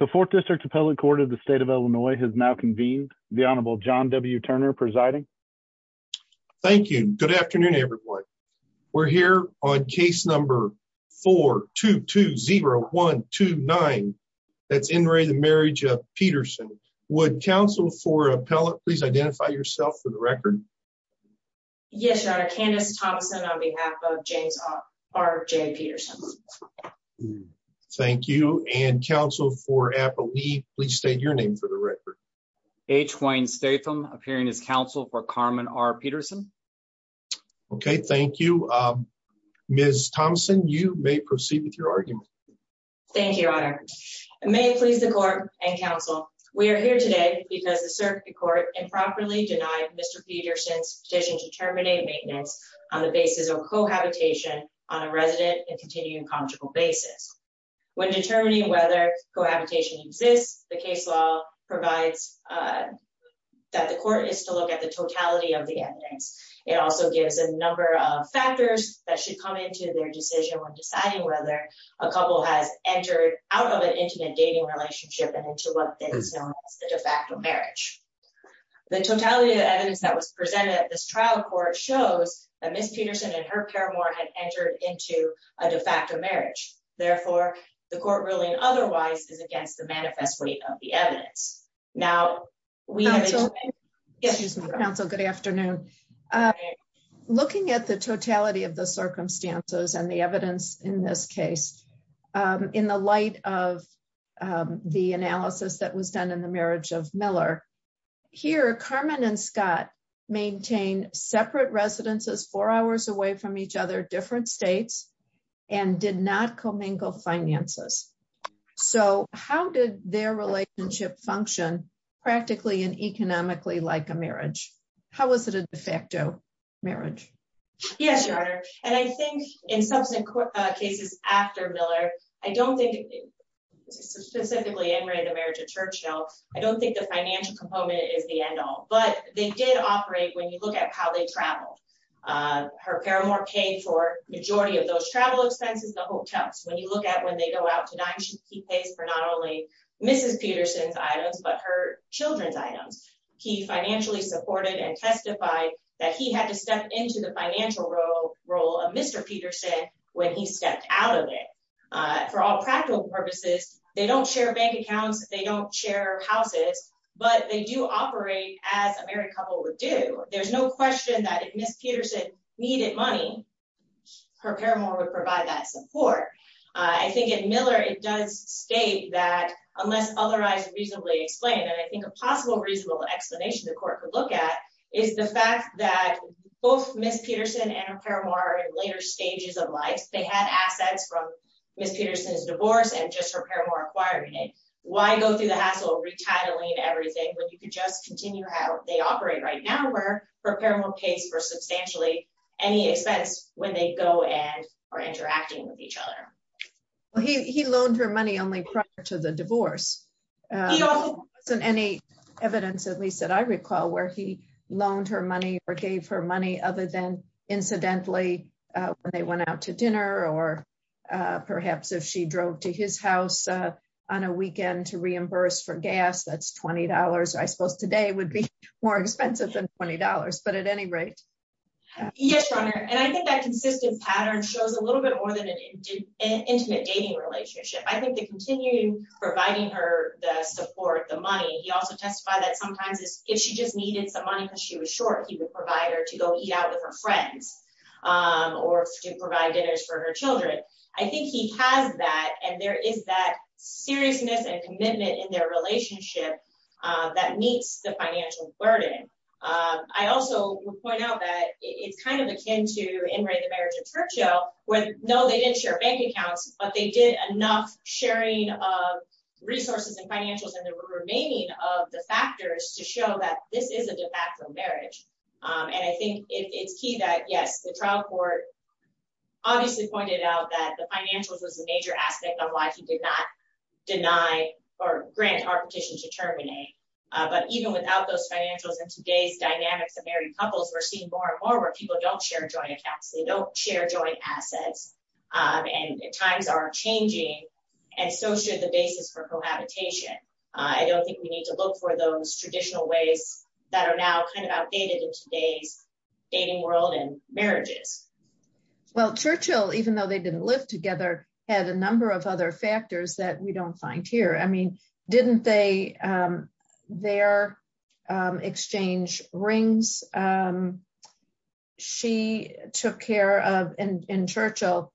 The 4th District Appellate Court of the State of Illinois has now convened. The Honorable John W. Turner presiding. Thank you. Good afternoon, everyone. We're here on case number 422-0129. That's N. Ray, the marriage of Peterson. Would counsel for appellate please identify yourself for the record? Yes, your honor, Candace Thompson on behalf of James R. J. Peterson. Thank you. And counsel for appellate, please state your name for the record. H. Wayne Statham appearing as counsel for Carmen R. Peterson. Okay, thank you. Ms. Thompson, you may proceed with your argument. Thank you, your honor. May it please the court and counsel, we are here today because the circuit court improperly denied Mr. Peterson's petition to terminate maintenance on the basis of cohabitation on a resident and continuing conjugal basis. When determining whether cohabitation exists, the case law provides that the court is to look at the totality of the evidence. It also gives a number of factors that should come into their decision when deciding whether a couple has entered out of an intimate dating relationship and into what is known as the de facto marriage. The totality of the evidence that was presented at this trial court shows that Ms. Peterson and her paramour had entered into a de facto marriage. Therefore, the court ruling otherwise is against the manifest weight of the evidence. Now, we have. Excuse me, counsel, good afternoon. Looking at the totality of the circumstances and the evidence in this case, in the light of the analysis that was done in the marriage of Miller here, Carmen and Scott maintain separate residences four hours away from each other, different states and did not commingle finances. So how did their relationship function practically and economically like a marriage? How was it a de facto marriage? Yes, Your Honor. And I think in subsequent cases after Miller, I don't think specifically in the marriage of Churchill, I don't think the financial component is the end all, but they did operate when you look at how they traveled. Her paramour paid for majority of those travel expenses, the hotels. When you look at when they go out to dine, he pays for not only Mrs. Peterson's items, but her children's items. He financially supported and testified that he had to step into the financial role of Mr. Peterson when he stepped out of it. For all practical purposes, they don't share bank accounts. They don't share houses, but they do operate as a married couple would do. There's no question that if Mrs. Peterson needed money, her paramour would provide that support. I think in Miller, it does state that unless otherwise reasonably explained, and I think a possible reasonable explanation the court could look at is the fact that both Mrs. Peterson and her paramour are in later stages of life. They had assets from Mrs. Peterson's divorce and just her paramour acquiring it. Why go through the hassle of retitling everything when you could just continue how they operate right now where her paramour pays for substantially any expense when they go and are interacting with each other? Well, he loaned her money only prior to the divorce. There wasn't any evidence, at least that I recall, where he loaned her money or gave her money other than incidentally when they went out to dinner or perhaps if she drove to his house on a weekend to reimburse for gas. That's $20. I suppose today would be more expensive than $20, but at any rate. Yes, Your Honor, and I think that consistent pattern shows a little bit more than an intimate dating relationship. I think the continuing providing her the support, the money, he also testified that sometimes if she just needed some money because she was short, he would provide her to go eat out with her friends or to provide dinners for her children. I think he has that, and there is that seriousness and commitment in their relationship that meets the financial burden. I also would point out that it's kind of akin to In re the Marriage of Churchill, where no, they didn't share bank accounts, but they did enough sharing of resources and financials and the remaining of the factors to show that this is a de facto marriage. And I think it's key that yes, the trial court obviously pointed out that the financials was a major aspect of life. He did not deny or grant our petition to terminate. But even without those financials in today's dynamics of married couples, we're seeing more and more where people don't share joint accounts. They don't share joint assets, and times are changing, and so should the basis for cohabitation. I don't think we need to look for those traditional ways that are now kind of outdated in today's dating world and marriages. Well, Churchill, even though they didn't live together, had a number of other factors that we don't find here. I mean, didn't they their exchange rings? She took care of in Churchill.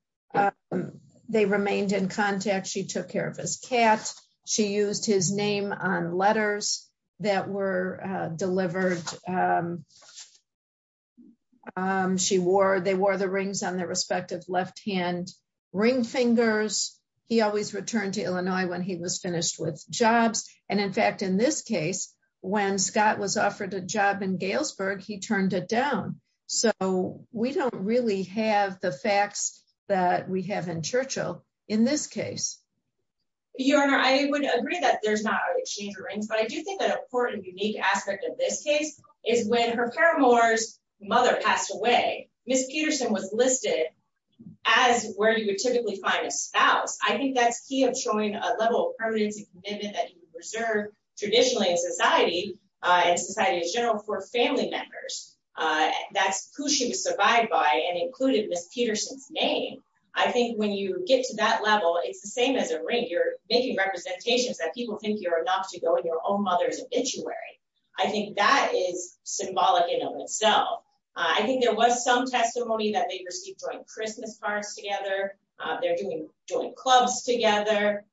They remained in contact. She took care of his cat. She used his name on letters that were delivered. They wore the rings on their respective left hand ring fingers. He always returned to Illinois when he was finished with jobs. And in fact, in this case, when Scott was offered a job in Galesburg, he turned it down. So we don't really have the facts that we have in Churchill in this case. Your Honor, I would agree that there's not an exchange of rings, but I do think an important and unique aspect of this case is when her paramour's mother passed away, Miss Peterson was listed as where you would typically find a spouse. I think that's key of showing a level of permanency and commitment that you reserve traditionally in society, in society in general, for family members. That's who she was survived by and included Miss Peterson's name. I think when you get to that level, it's the same as a ring. You're making representations that people think you're enough to go in your own mother's obituary. I think that is symbolic in of itself. I think there was some testimony that they received during Christmas parties together. They're doing joint clubs together.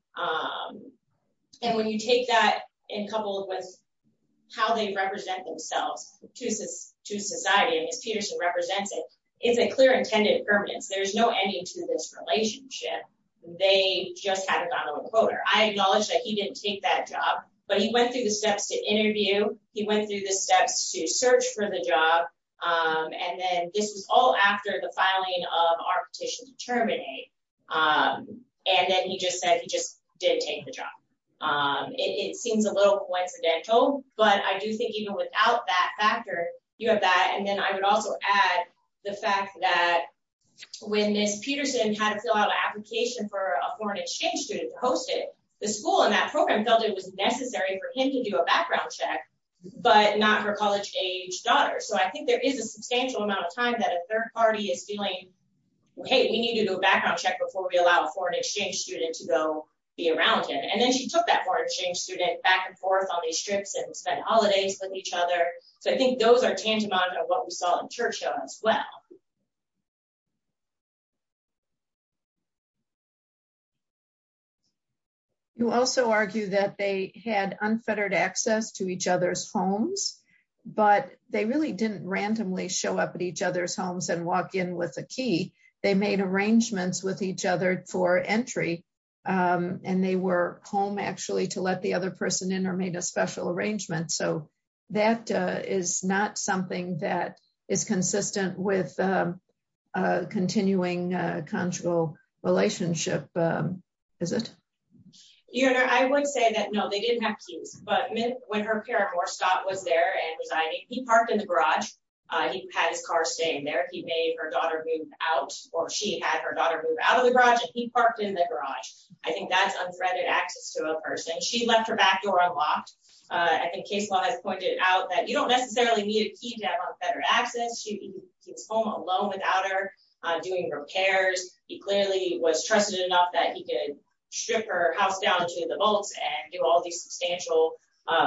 And when you take that in couple with how they represent themselves to society, and Miss Peterson represents it, it's a clear intended permanence. There's no ending to this relationship. They just had a dominant quoter. I acknowledge that he didn't take that job, but he went through the steps to interview, he went through the steps to search for the job, and then this was all after the filing of our petition to terminate. And then he just said he just didn't take the job. It seems a little coincidental, but I do think even without that factor, you have that. And then I would also add the fact that when Miss Peterson had to fill out an application for a foreign exchange student to host it, the school and that program felt it was necessary for him to do a background check, but not her college-age daughter. So I think there is a substantial amount of time that a third party is feeling, hey, we need to do a background check before we allow a foreign exchange student to go be around him. And then she took that foreign exchange student back and forth on these trips and spent holidays with each other. So I think those are tangible of what we saw in Churchill as well. You also argue that they had unfettered access to each other's homes, but they really didn't randomly show up at each other's homes and walk in with a key. They made arrangements with each other for entry, and they were home actually to let the other person in or made a special arrangement. So that is not something that is consistent with a continuing conjugal relationship, is it? I would say that, no, they didn't have keys. But when her parent, Morse Scott, was there and residing, he parked in the garage. He had his car staying there. He made her daughter move out, or she had her daughter move out of the garage, and he parked in the garage. I think that's unfettered access to a person. She left her back door unlocked. I think Casewell has pointed out that you don't necessarily need a key to have unfettered access. She was home alone without her doing repairs. He clearly was trusted enough that he could strip her house down to the bolts and do all these substantial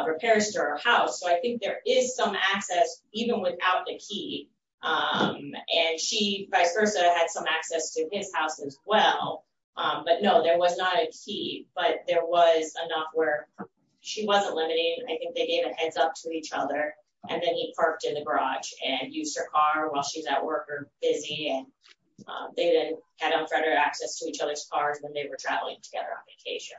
repairs to her house. So I think there is some access, even without the key. And she, vice versa, had some access to his house as well. But no, there was not a key. But there was enough where she wasn't limiting. I think they gave a heads up to each other. And then he parked in the garage and used her car while she's at work or busy. And they then had unfettered access to each other's cars when they were traveling together on vacation.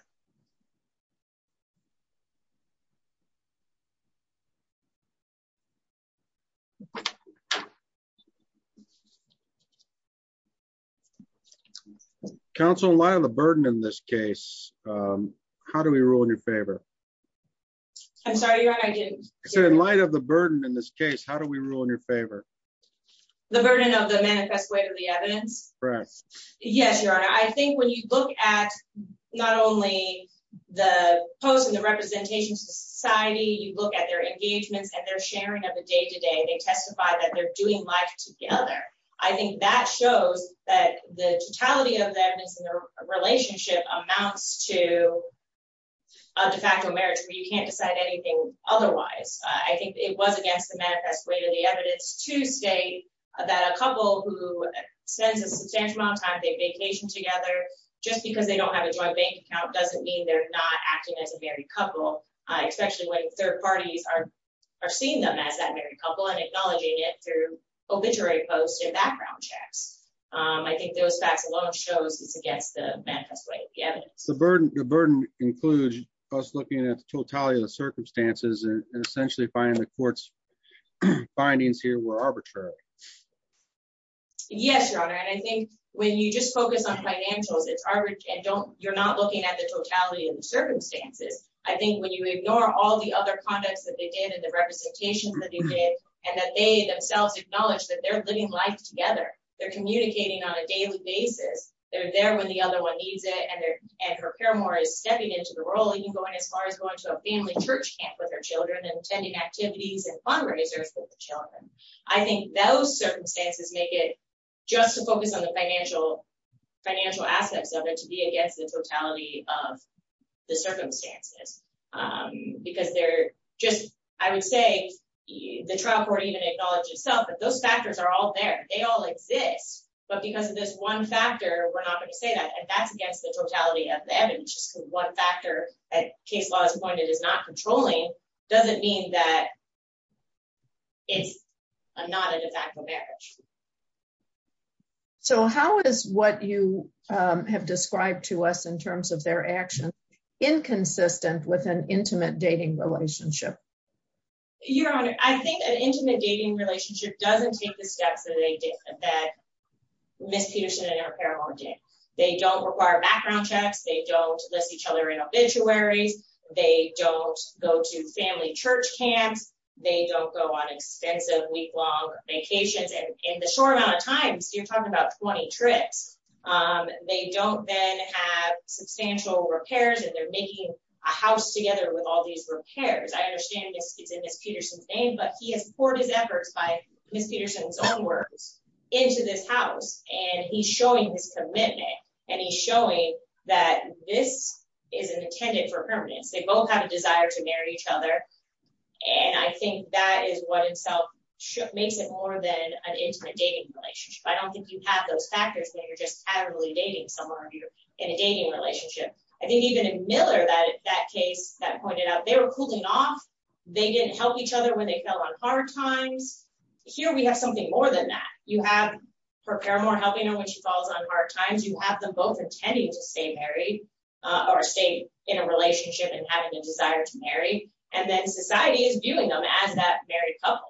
Counsel, in light of the burden in this case, how do we rule in your favor? I'm sorry, Your Honor, I didn't hear you. In light of the burden in this case, how do we rule in your favor? The burden of the manifest way to the evidence? Correct. Yes, Your Honor. I think when you look at not only the post and the representation to society, you look at their engagements and their sharing of the day-to-day, they testify that they're doing life together. I think that shows that the totality of the evidence in their relationship amounts to a de facto marriage where you can't decide anything otherwise. I think it was against the manifest way to the evidence to state that a couple who spends a substantial amount of time on vacation together just because they don't have a joint bank account doesn't mean they're not acting as a married couple, especially when third background checks. I think those facts alone shows it's against the manifest way to the evidence. The burden includes us looking at the totality of the circumstances and essentially finding the court's findings here were arbitrary. Yes, Your Honor, and I think when you just focus on financials, you're not looking at the totality of the circumstances. I think when you ignore all the other conducts that they did and the representations that they did and that they themselves acknowledge that they're living life together, they're communicating on a daily basis, they're there when the other one needs it, and her paramour is stepping into the role, even going as far as going to a family church camp with her children and attending activities and fundraisers with the children. I think those circumstances make it just to focus on the financial aspects of it to be against the totality of the circumstances. I would say the trial court even acknowledges itself that those factors are all there. They all exist, but because of this one factor, we're not going to say that, and that's against the totality of the evidence. Just because one factor, at case law's point, it is not controlling, doesn't mean that it's not a de facto marriage. So, how is what you have described to us in terms of their actions inconsistent with an intimate dating relationship? Your Honor, I think an intimate dating relationship doesn't take the steps that Miss Peterson and her paramour did. They don't require background checks. They don't list each other in obituaries. They don't go to family church camps. They don't go on expensive week-long vacations, and in the short amount of time, you're talking about 20 trips. They don't then have substantial repairs, and they're making a house together with all these repairs. I understand it's in Miss Peterson's name, but he has poured his efforts by Miss Peterson's own words into this house, and he's showing his commitment, and he's showing that this is intended for permanence. They both have a desire to marry each other, and I think that is what in itself makes it more than an intimate dating relationship. I don't think you have those factors when you're just patently dating someone in a dating relationship. I think even in Miller, that case that pointed out, they were cooling off. They didn't help each other when they fell on hard times. Here, we have something more than that. You have her paramour helping her when she falls on hard times. You have them both intending to stay married or stay in a relationship and having a desire to marry, and then society is viewing them as that married couple.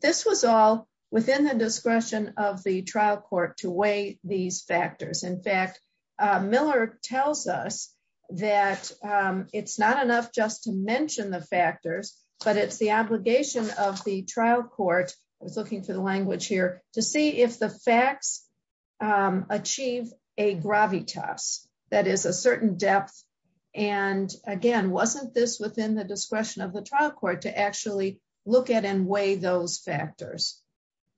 This was all within the discretion of the trial court to weigh these factors. In fact, Miller tells us that it's not enough just to mention the factors, but it's the achieve a gravitas, that is a certain depth. Again, wasn't this within the discretion of the trial court to actually look at and weigh those factors?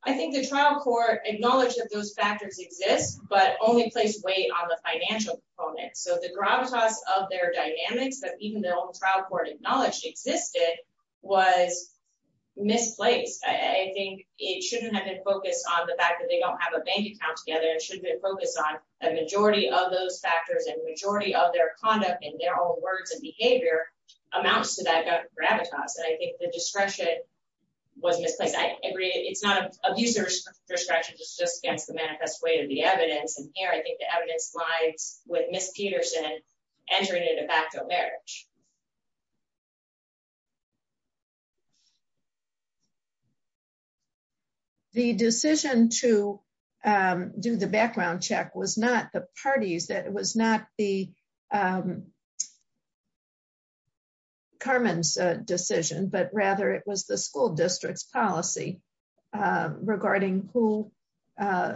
I think the trial court acknowledged that those factors exist, but only placed weight on the financial component. So the gravitas of their dynamics that even their own trial court acknowledged existed was misplaced. I think it shouldn't have been focused on the fact that they don't have a bank account together. It shouldn't have been focused on the majority of those factors and the majority of their conduct and their own words and behavior amounts to that gravitas. I think the discretion was misplaced. I agree it's not an abuser's discretion. It's just against the manifest weight of the evidence. And here, I think the evidence lies with Ms. Peterson entering into facto marriage. The decision to do the background check was not the party's, that it was not the Carmen's decision, but rather it was the school district's policy regarding who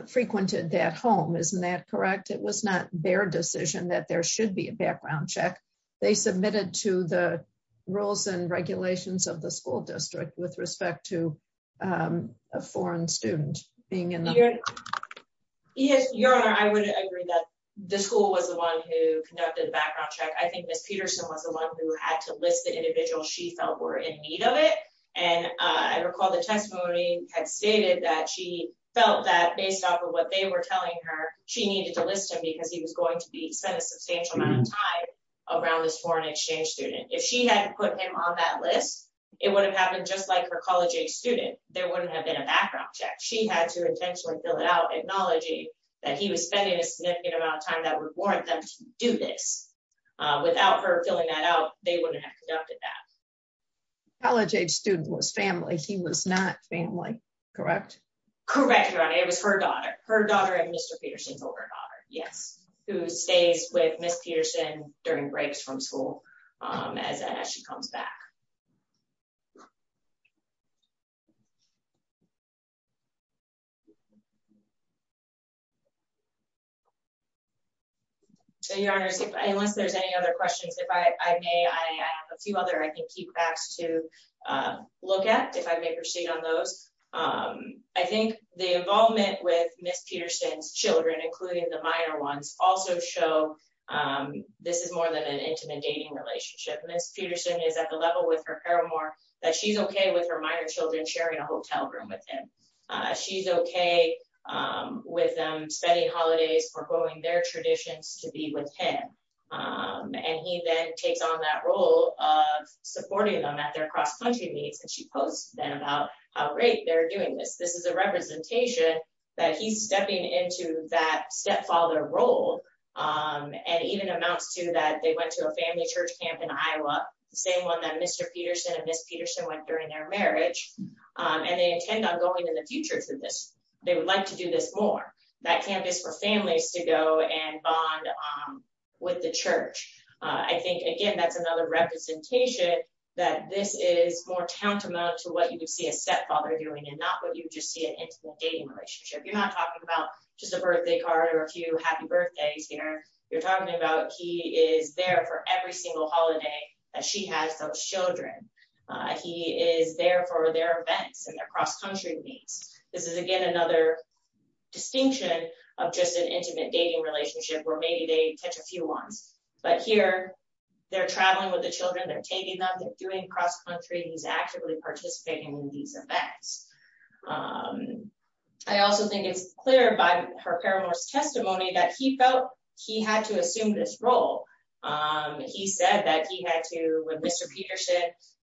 frequented that home. Isn't that correct? It was not their decision that there should be a background check. They submitted it to the school district. To the rules and regulations of the school district with respect to a foreign student. Yes, your honor. I would agree that the school was the one who conducted the background check. I think Ms. Peterson was the one who had to list the individuals she felt were in need of it. And I recall the testimony had stated that she felt that based off of what they were telling her, she needed to list him because he was going to be spent a substantial amount of time around this foreign exchange student. If she hadn't put him on that list, it would have happened just like her college-age student. There wouldn't have been a background check. She had to intentionally fill it out, acknowledging that he was spending a significant amount of time that would warrant them to do this. Without her filling that out, they wouldn't have conducted that. College-age student was family. He was not family, correct? Correct, your honor. It was her daughter, her daughter and Mr. Peterson's older daughter. Yes. Who stays with Ms. Peterson during breaks from school as she comes back. So your honors, unless there's any other questions, if I may, I have a few other, I can keep facts to look at if I may proceed on those. I think the involvement with Ms. Peterson's children, including the minor ones, also show this is more than an intimate dating relationship. Ms. Peterson is at the level with her paramour that she's okay with her minor children sharing a hotel room with him. She's okay with them spending holidays, proposing their traditions to be with him. And he then takes on that role of supporting them at their cross-country meets. She posts then about how great they're doing this. This is a representation that he's stepping into that stepfather role and even amounts to that they went to a family church camp in Iowa, the same one that Mr. Peterson and Ms. Peterson went during their marriage. And they intend on going in the future to this. They would like to do this more. That camp is for families to go and bond with the church. I think, again, that's another representation that this is more tantamount to what you would see a stepfather doing and not what you would just see an intimate dating relationship. You're not talking about just a birthday card or a few happy birthdays here. You're talking about he is there for every single holiday that she has those children. He is there for their events and their cross-country meets. This is, again, another distinction of just an intimate dating relationship where maybe they catch a few ones. But here, they're traveling with the children. They're taking them. They're doing cross-country. He's actively participating in these events. I also think it's clear by her parents testimony that he felt he had to assume this role. He said that he had to, when Mr. Peterson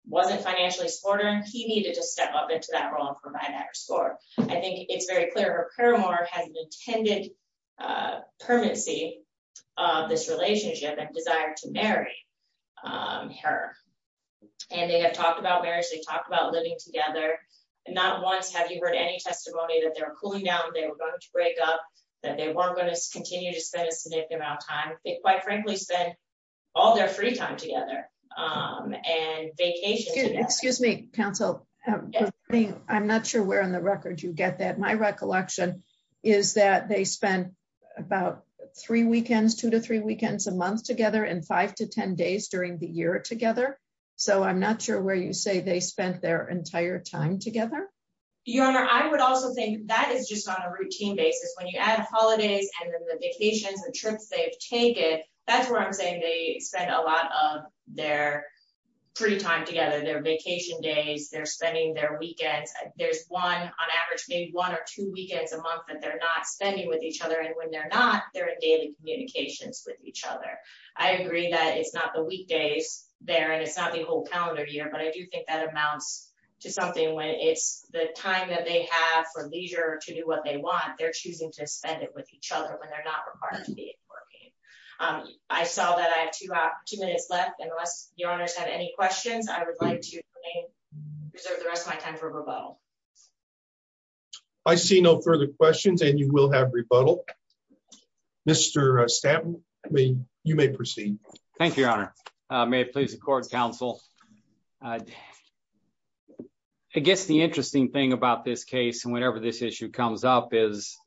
wasn't financially supportive, he needed to step up into that role and provide that support. I think it's very clear. Paramore has an intended permanency of this relationship and desire to marry her. They have talked about marriage. They've talked about living together. Not once have you heard any testimony that they were cooling down, they were going to break up, that they weren't going to continue to spend a significant amount of time. They, quite frankly, spend all their free time together and vacation. Excuse me, counsel. I'm not sure where on the record you get that. My recollection is that they spent about three weekends, two to three weekends a month together and five to 10 days during the year together. I'm not sure where you say they spent their entire time together. Your Honor, I would also think that is just on a routine basis. When you add holidays and then the vacations and trips they've taken, that's where I'm saying they spend a lot of their free time together, their vacation days. They're spending their weekends. There's one on average, maybe one or two weekends a month that they're not spending with each other and when they're not, they're in daily communications with each other. I agree that it's not the weekdays there and it's not the whole calendar year, but I do think that amounts to something when it's the time that they have for leisure to do what they want. They're choosing to spend it with each other when they're not required to be working. I saw that I have two minutes left. Unless Your Honor has any questions, I would like to reserve the rest of my time for rebuttal. I see no further questions and you will have rebuttal. Mr. Stanton, you may proceed. Thank you, Your Honor. May it please the court and counsel. I guess the interesting thing about this case and whenever this issue comes up is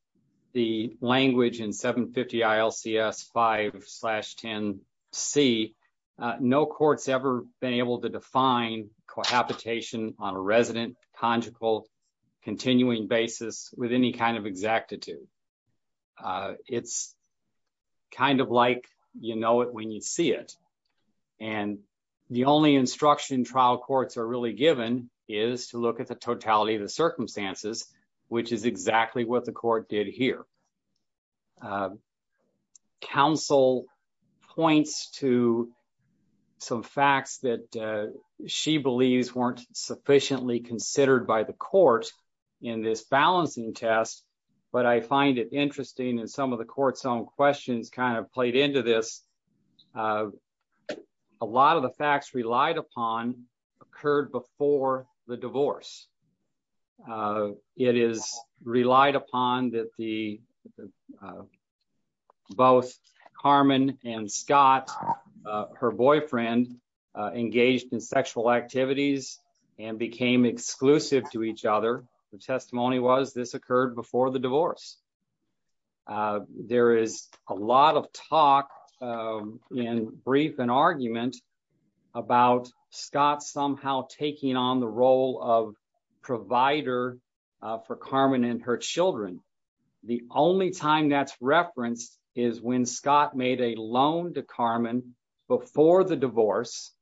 the language in 750 ILCS 5-10-C, no court's ever been able to define cohabitation on a resident, conjugal, continuing basis with any kind of exactitude. It's kind of like you know it when you see it and the only instruction trial courts are really given is to look at the totality of the circumstances, which is exactly what the court did here. The counsel points to some facts that she believes weren't sufficiently considered by the court in this balancing test, but I find it interesting and some of the court's own questions kind of played into this. A lot of the facts relied upon occurred before the divorce. It is relied upon that both Carmen and Scott, her boyfriend, engaged in sexual activities and became exclusive to each other. The testimony was this occurred before the divorce. There is a lot of talk and brief and argument about Scott somehow taking on the role of provider for Carmen and her children. The only time that's referenced is when Scott made a loan to Carmen before the divorce,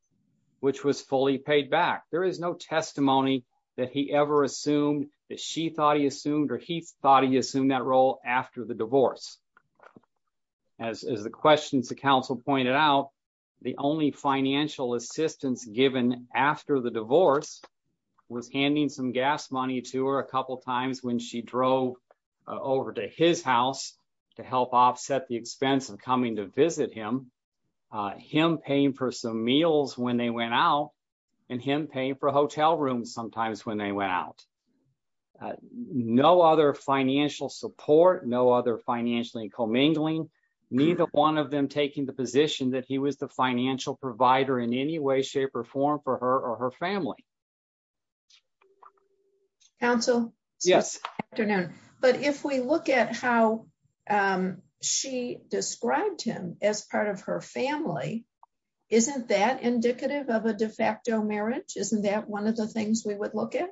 which was fully paid back. There is no testimony that he ever assumed that she thought he assumed or he thought he assumed that role after the divorce. As the questions to counsel pointed out, the only financial assistance given after the divorce was handing some gas money to her a couple times when she drove over to his house to help offset the expense of coming to visit him. Him paying for some meals when they went out and him paying for hotel rooms sometimes when they went out. No other financial support. No other financially commingling. Neither one of them taking the position that he was the financial provider in any way, shape or form for her or her family. Counsel? Yes. But if we look at how she described him as part of her family, isn't that indicative of a de facto marriage? Isn't that one of the things we would look at?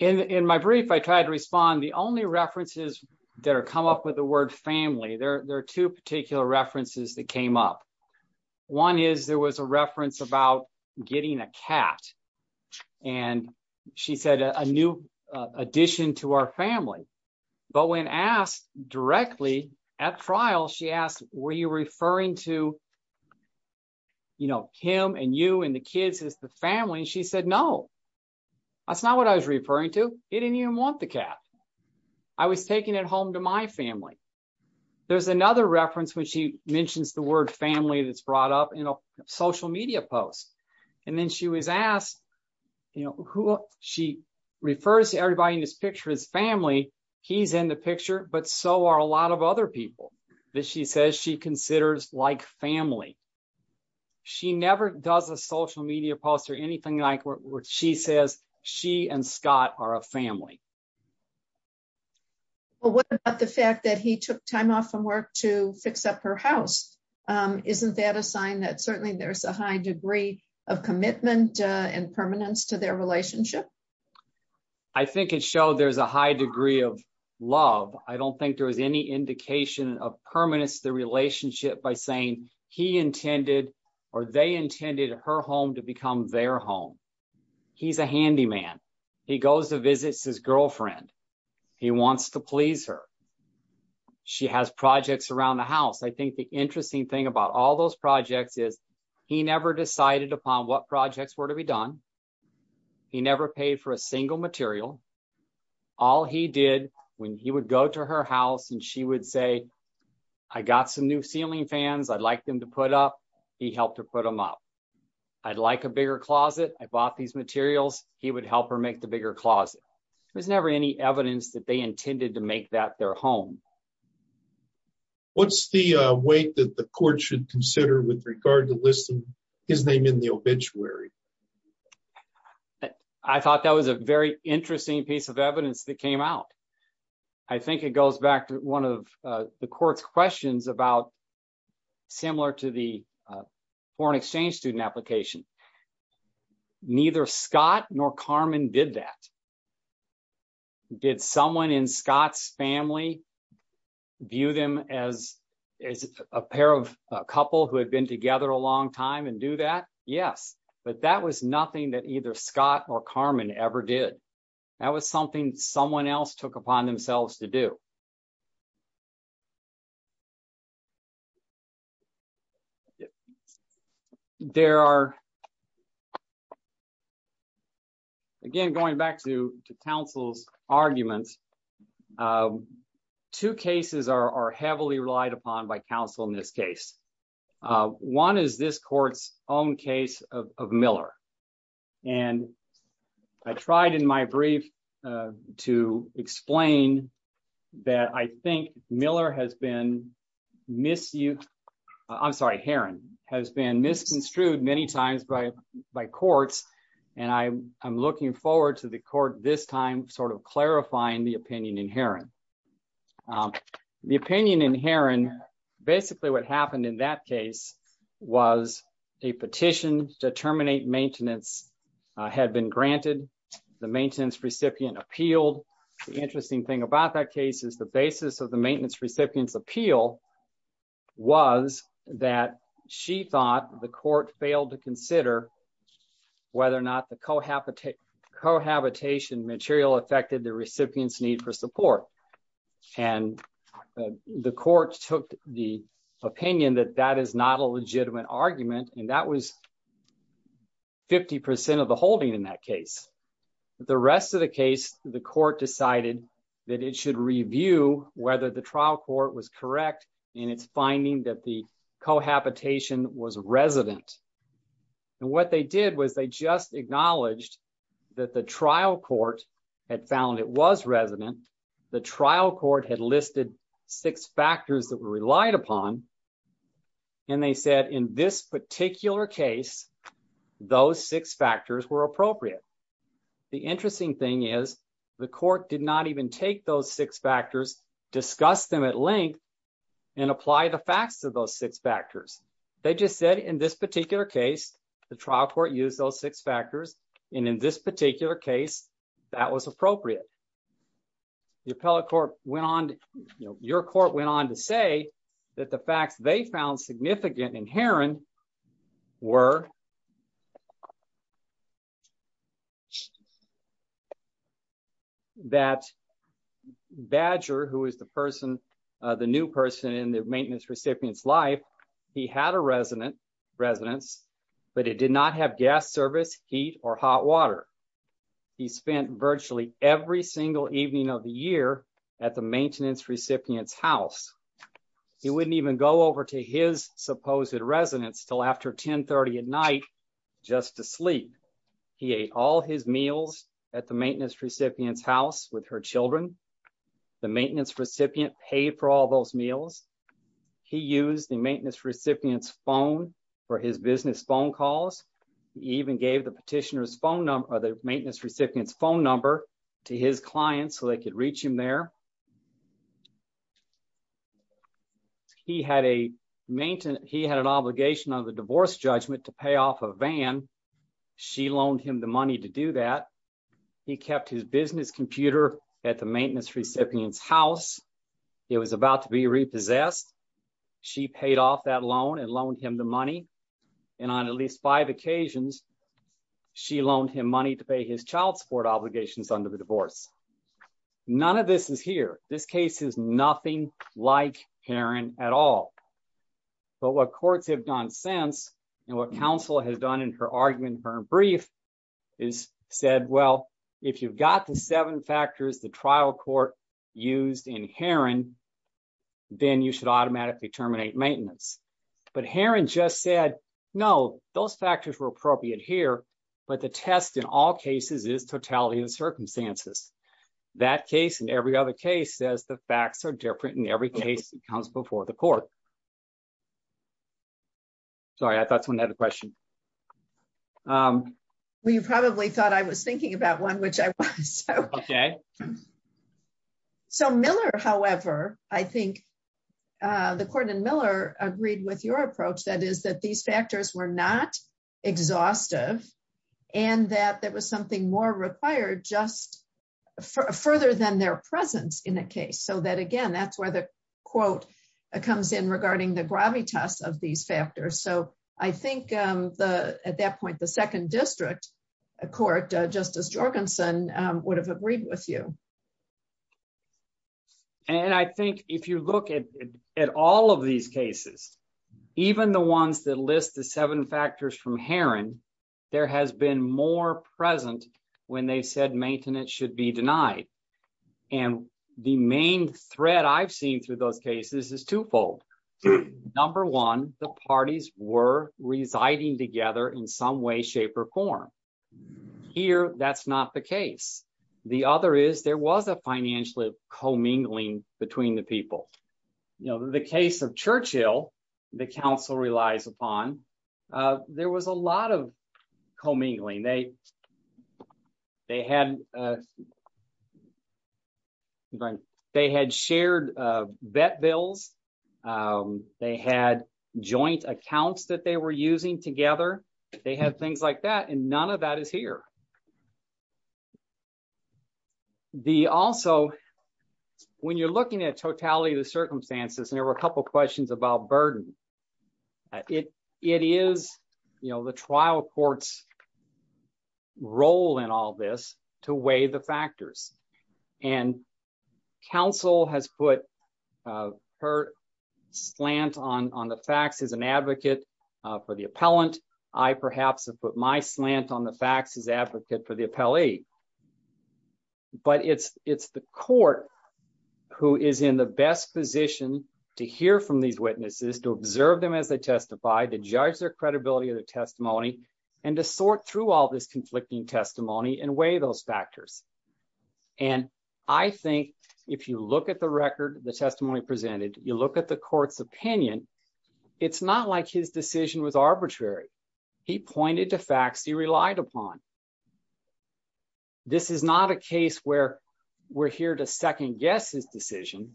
In my brief, I tried to respond. The only references that come up with the word family, there are two particular references that came up. One is there was a reference about getting a cat, and she said a new addition to our family. But when asked directly at trial, she asked, were you referring to him and you and the kids as the family? And she said, no. That's not what I was referring to. It didn't even want the cat. I was taking it home to my family. There's another reference when she mentions the word family that's brought up in a social media post. And then she was asked, you know, she refers to everybody in this picture as family. He's in the picture, but so are a lot of other people that she says she considers like family. She never does a social media post or anything like where she says she and Scott are a family. Well, what about the fact that he took time off from work to fix up her house? Isn't that a sign that certainly there's a high degree of commitment and permanence to their relationship? I think it showed there's a high degree of love. I don't think there was any indication of permanence to the relationship by saying he intended or they intended her home to become their home. He's a handyman. He goes to visit his girlfriend. He wants to please her. She has projects around the house. I think the interesting thing about all those projects is he never decided upon what projects were to be done. He never paid for a single material. All he did when he would go to her house and she would say, I got some new ceiling fans. I'd like them to put up. He helped her put them up. I'd like a bigger closet. I bought these materials. He would help her make the bigger closet. There's never any evidence that they intended to make that their home. What's the weight that the court should consider with regard to listing his name in the obituary? I thought that was a very interesting piece of evidence that came out. I think it goes back to one of the court's questions about similar to the foreign exchange student application. Neither Scott nor Carmen did that. Did someone in Scott's family view them as a pair of a couple who had been together a long time and do that? Yes, but that was nothing that either Scott or Carmen ever did. That was something someone else took upon themselves to do. There are, again, going back to counsel's arguments, two cases are heavily relied upon by counsel in this case. One is this court's own case of Miller. And I tried in my brief to explain that I think Miller has been misused, I'm sorry, Heron has been misconstrued many times by courts. And I'm looking forward to the court this time clarifying the opinion in Heron. The opinion in Heron, basically what happened in that case was a petition to terminate maintenance had been granted. The maintenance recipient appealed. The interesting thing about that case is the basis of the maintenance recipient's appeal was that she thought the court failed to consider whether or not the cohabitation material affected the recipient's need for support. And the court took the opinion that that is not a legitimate argument. And that was 50% of the holding in that case. The rest of the case, the court decided that it should review whether the trial court was correct in its finding that the cohabitation was resident. And what they did was they just acknowledged that the trial court had found it was resident. The trial court had listed six factors that were relied upon. And they said, in this particular case, those six factors were appropriate. The interesting thing is the court did not even take those six factors, discuss them at length, and apply the facts of those six factors. They just said, in this particular case, the trial court used those six factors. And in this particular case, that was appropriate. The appellate court went on, your court went on to say that the facts they found significant inherent were that Badger, who is the person, the new person in the maintenance recipient's life, he had a resident, residence, but it did not have gas service, heat, or hot water. He spent virtually every single evening of the year at the maintenance recipient's house. He wouldn't even go over to his supposed residence till after 1030 at night just to sleep. He ate all his meals at the maintenance recipient's house with her children. The maintenance recipient paid for all those meals. He used the maintenance recipient's phone for his business phone calls. He even gave the petitioner's phone number, the maintenance recipient's phone number to his clients so they could reach him there. He had a maintenance, he had an obligation under the divorce judgment to pay off a van. She loaned him the money to do that. He kept his business computer at the maintenance recipient's house. It was about to be repossessed. She paid off that loan and loaned him the money. On at least five occasions, she loaned him money to pay his child support obligations under the divorce. None of this is here. This case is nothing like Heron at all. But what courts have done since, and what counsel has done in her argument, her brief, is said, well, if you've got the seven factors the trial court used in Heron, then you should automatically terminate maintenance. But Heron just said, no, those factors were appropriate here, but the test in all cases is totality of the circumstances. That case and every other case says the facts are different in every case that comes before the court. Sorry, I thought someone had a question. Well, you probably thought I was thinking about one, which I was. OK. So Miller, however, I think the court in Miller agreed with your approach. That is that these factors were not exhaustive and that there was something more required just further than their presence in a case. So that, again, that's where the quote comes in regarding the gravitas of these factors. So I think at that point, the second district court, Justice Jorgensen, would have agreed with you. And I think if you look at all of these cases, even the ones that list the seven factors from Heron, there has been more present when they said maintenance should be denied. And the main threat I've seen through those cases is twofold. Number one, the parties were residing together in some way, shape or form. Here, that's not the case. The other is there was a financial commingling between the people. The case of Churchill, the counsel relies upon, there was a lot of commingling. They had shared vet bills. They had joint accounts that they were using together. They had things like that. And none of that is here. The also, when you're looking at totality of the circumstances, there were a couple questions about burden. It is the trial court's role in all this to weigh the factors. And counsel has put her slant on the facts as an advocate for the appellant. I perhaps have put my slant on the facts as advocate for the appellee. But it's the court who is in the best position to hear from these witnesses, to observe them as they testify, to judge their credibility of the testimony, and to sort through all this conflicting testimony and weigh those factors. And I think if you look at the record, the testimony presented, you look at the court's opinion, it's not like his decision was arbitrary. He pointed to facts he relied upon. This is not a case where we're here to second guess his decision.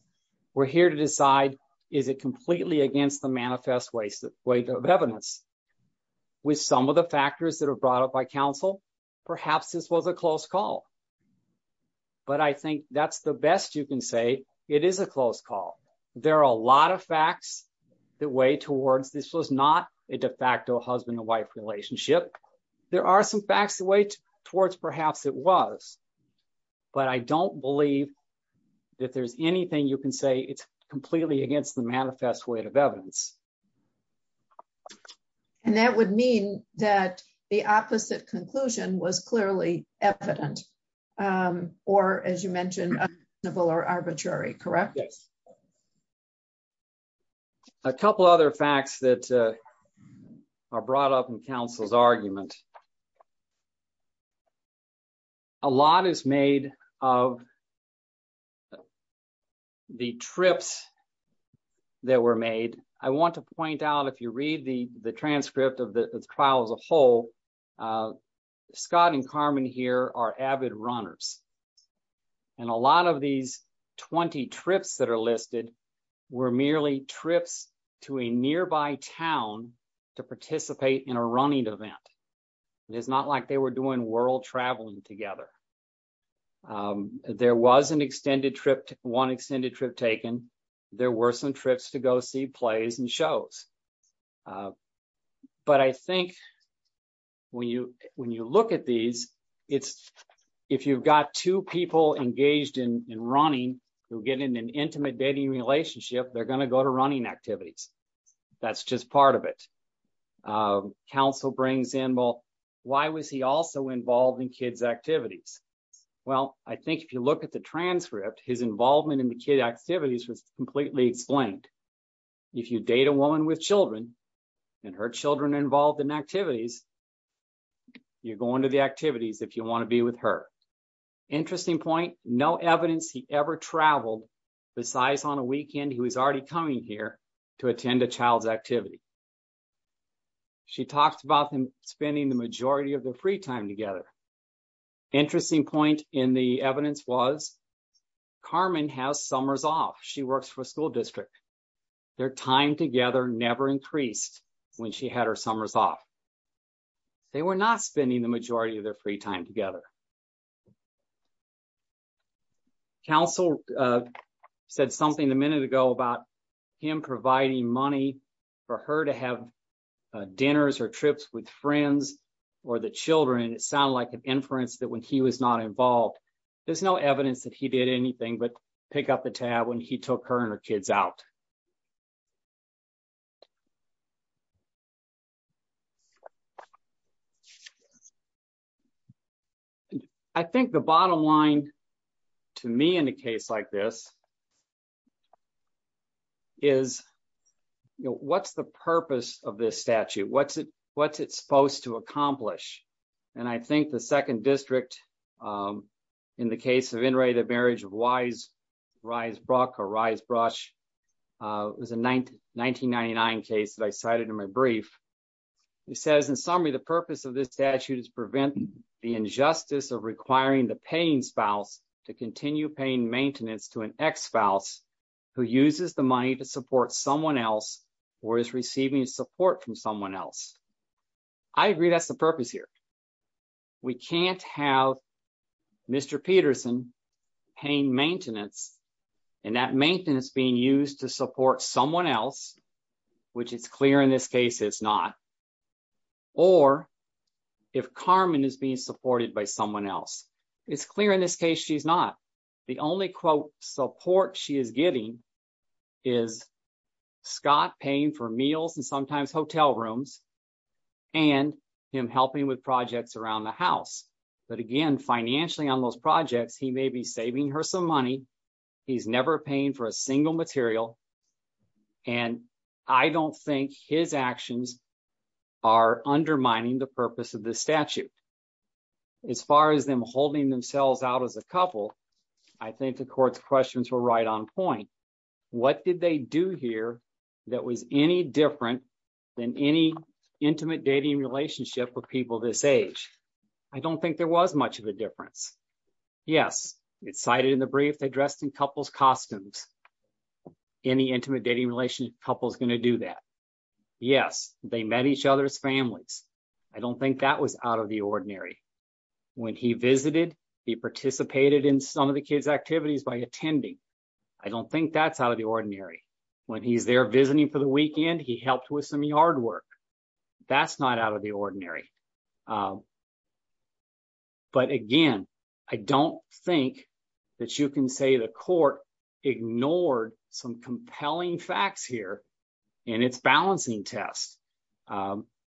We're here to decide, is it completely against the manifest weight of evidence? With some of the factors that are brought up by counsel, perhaps this was a close call. But I think that's the best you can say. It is a close call. There are a lot of facts that weigh towards this was not a de facto husband and wife relationship. There are some facts that weigh towards perhaps it was. But I don't believe that there's anything you can say it's completely against the manifest weight of evidence. And that would mean that the opposite conclusion was clearly evident, or as you mentioned, arbitrary, correct? A couple other facts that are brought up in counsel's argument. A lot is made of the trips that were made. I want to point out, if you read the transcript of the trial as a whole, Scott and Carmen here are avid runners. And a lot of these 20 trips that are listed were merely trips to a nearby town to participate in a running event. It's not like they were doing world traveling together. There was an extended trip, one extended trip taken. There were some trips to go see plays and shows. But I think when you look at these, if you've got two people engaged in running, who get in an intimate dating relationship, they're going to go to running activities. That's just part of it. Counsel brings in, well, why was he also involved in kids' activities? Well, I think if you look at the transcript, his involvement in the kid activities was completely explained. If you date a woman with children and her children are involved in activities, you're going to the activities if you want to be with her. Interesting point, no evidence he ever traveled besides on a weekend he was already coming here to attend a child's activity. She talked about him spending the majority of their free time together. Interesting point in the evidence was Carmen has summers off. She works for a school district. Their time together never increased when she had her summers off. They were not spending the majority of their free time together. Counsel said something a minute ago about him providing money for her to have dinners or trips with friends or the children. It sounded like an inference that when he was not involved, there's no evidence that he did anything but pick up the tab when he took her and her kids out. I think the bottom line to me in a case like this is what's the purpose of this statute? What's it supposed to accomplish? I think the second district in the case of the marriage was a 1999 case that I cited in my brief. The purpose of this statute is to prevent the injustice of requiring the paying spouse to continue paying maintenance to an ex-spouse who uses the money to support someone else or is receiving support from someone else. I agree that's the purpose here. We can't have Mr. Peterson paying maintenance and that maintenance being used to support someone else, which is clear in this case it's not, or if Carmen is being supported by someone else. It's clear in this case she's not. The only quote support she is getting is Scott paying for meals and sometimes hotel rooms and him helping with projects around the house. But again, financially on those projects, he may be saving her some money. He's never paying for a single material and I don't think his actions are undermining the purpose of this statute. As far as them holding themselves out as a couple, I think the court's questions were right on point. What did they do here that was any different than any intimate dating relationship with people this age? I don't think there was much of a difference. Yes, it's cited in the brief they dressed in couples costumes. Any intimate dating relationship couple is going to do that. Yes, they met each other's families. I don't think that was out of the ordinary. When he visited, he participated in some of the kids activities by attending. I don't think that's out of the ordinary. When he's there visiting for the weekend, he helped with some yard work. That's not out of the ordinary. But again, I don't think that you can say the court ignored some compelling facts here in its balancing test.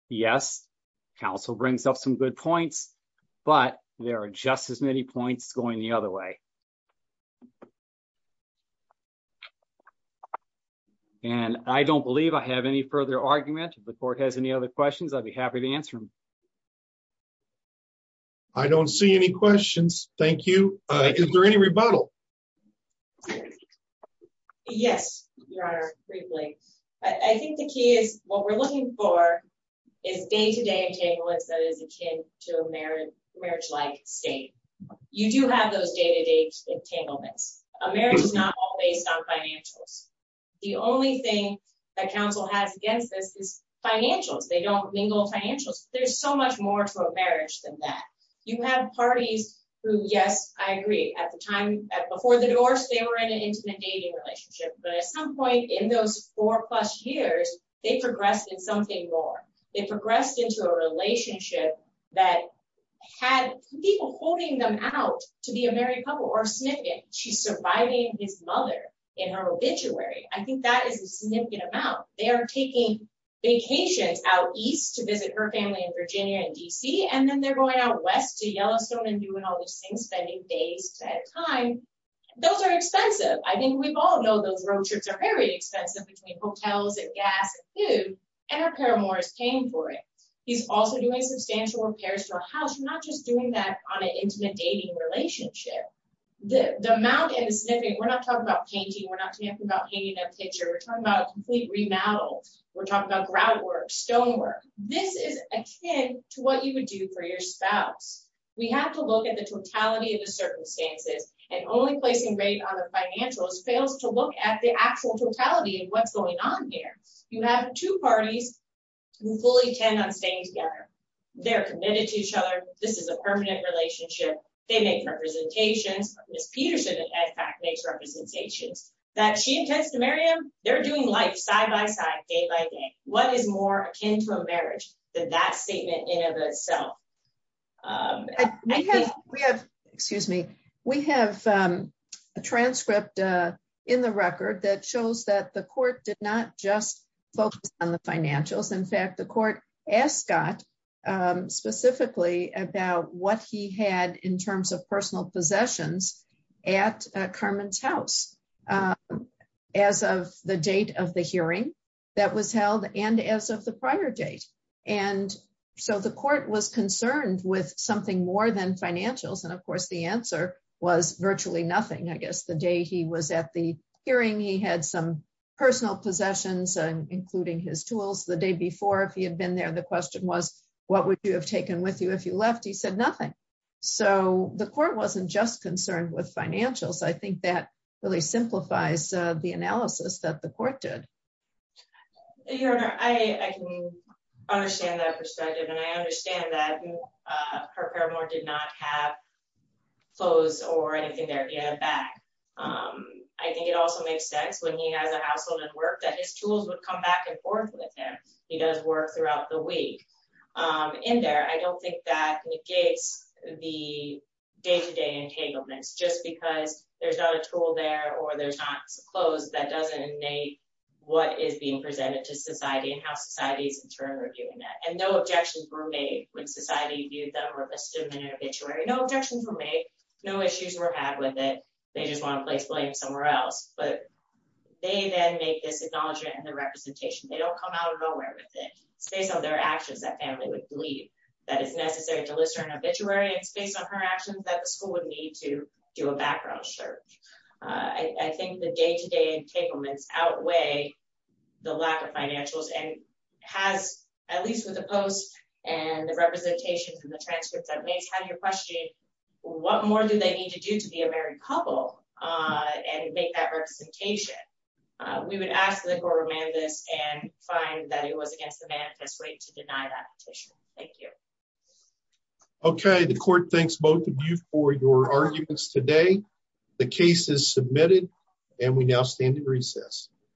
Yes, counsel brings up some good points, but there are just as many points going the other way. And I don't believe I have any further argument. If the court has any other questions, I'd be happy to answer them. I don't see any questions. Thank you. Is there any rebuttal? Yes, your honor. Briefly. I think the key is what we're looking for is day-to-day entanglements that is akin to a marriage-like state. You do have those day-to-day entanglements. A marriage is not all based on financials. The only thing that counsel has against this is financials. They don't mingle financials. There's so much more to a marriage than that. You have parties who, yes, I agree, at the time, before the divorce, they were in an intimate dating relationship. But at some point in those four plus years, they progressed in something more. They progressed into a relationship that had people holding them out to be a married couple or significant. She's surviving his mother in her obituary. I think that is a significant amount. They are taking vacations out east to visit her family in Virginia and D.C., and then they're going out west to Yellowstone and doing all those things, spending days at a time. Those are expensive. I think we all know those road trips are very expensive between hotels and gas and food, and our paramour is paying for it. He's also doing substantial repairs to a house. You're not just doing that on an intimate dating relationship. The amount and the sniffing, we're not talking about painting. We're not talking about painting a picture. We're talking about a complete remodel. We're talking about grout work, stonework. This is akin to what you would do for your spouse. We have to look at the totality of the circumstances, and only placing weight on the financials fails to look at the actual totality of what's going on here. You have two parties who fully tend on staying together. They're committed to each other. This is a permanent relationship. They make representations. Ms. Peterson, in fact, makes representations that she intends to marry him. They're doing life side-by-side, day-by-day. What is more akin to a marriage than that statement in and of itself? We have a transcript in the record that shows that the court did not just focus on the financials. In fact, the court asked Scott specifically about what he had in terms of personal possessions at Carmen's house as of the date of the hearing that was held and as of the prior date. And so the court was concerned with something more than financials. And of course, the answer was virtually nothing. I guess the day he was at the hearing, he had some personal possessions, including his tools. The day before, if he had been there, the question was, what would you have taken with you if you left? He said nothing. So the court wasn't just concerned with financials. I think that really simplifies the analysis that the court did. Your Honor, I can understand that perspective. And I understand that her paramour did not have clothes or anything there. He had a bag. I think it also makes sense, when he has a household and work, that his tools would come back and forth with him. He does work throughout the week. In there, I don't think that negates the day-to-day entanglements. Just because there's not a tool there or there's not some clothes, that doesn't negate what is being presented to society and how society is in turn reviewing that. And no objections were made when society viewed them or listed them in an obituary. No objections were made. No issues were had with it. They just want to place blame somewhere else. But they then make this acknowledgment and the representation. They don't come out of nowhere with it. It's based on their actions that family would believe. That it's necessary to list her in an obituary. It's based on her actions that the school would need to do a background search. I think the day-to-day entanglements outweigh the lack of financials. And has, at least with the post and the representations and the transcripts that Mace had in your question, what more do they need to do to be a married couple and make that representation? We would ask that the court remand this and find that it was against the manifest way to deny that petition. Thank you. Okay, the court thanks both of you for your arguments today. The case is submitted and we now stand in recess.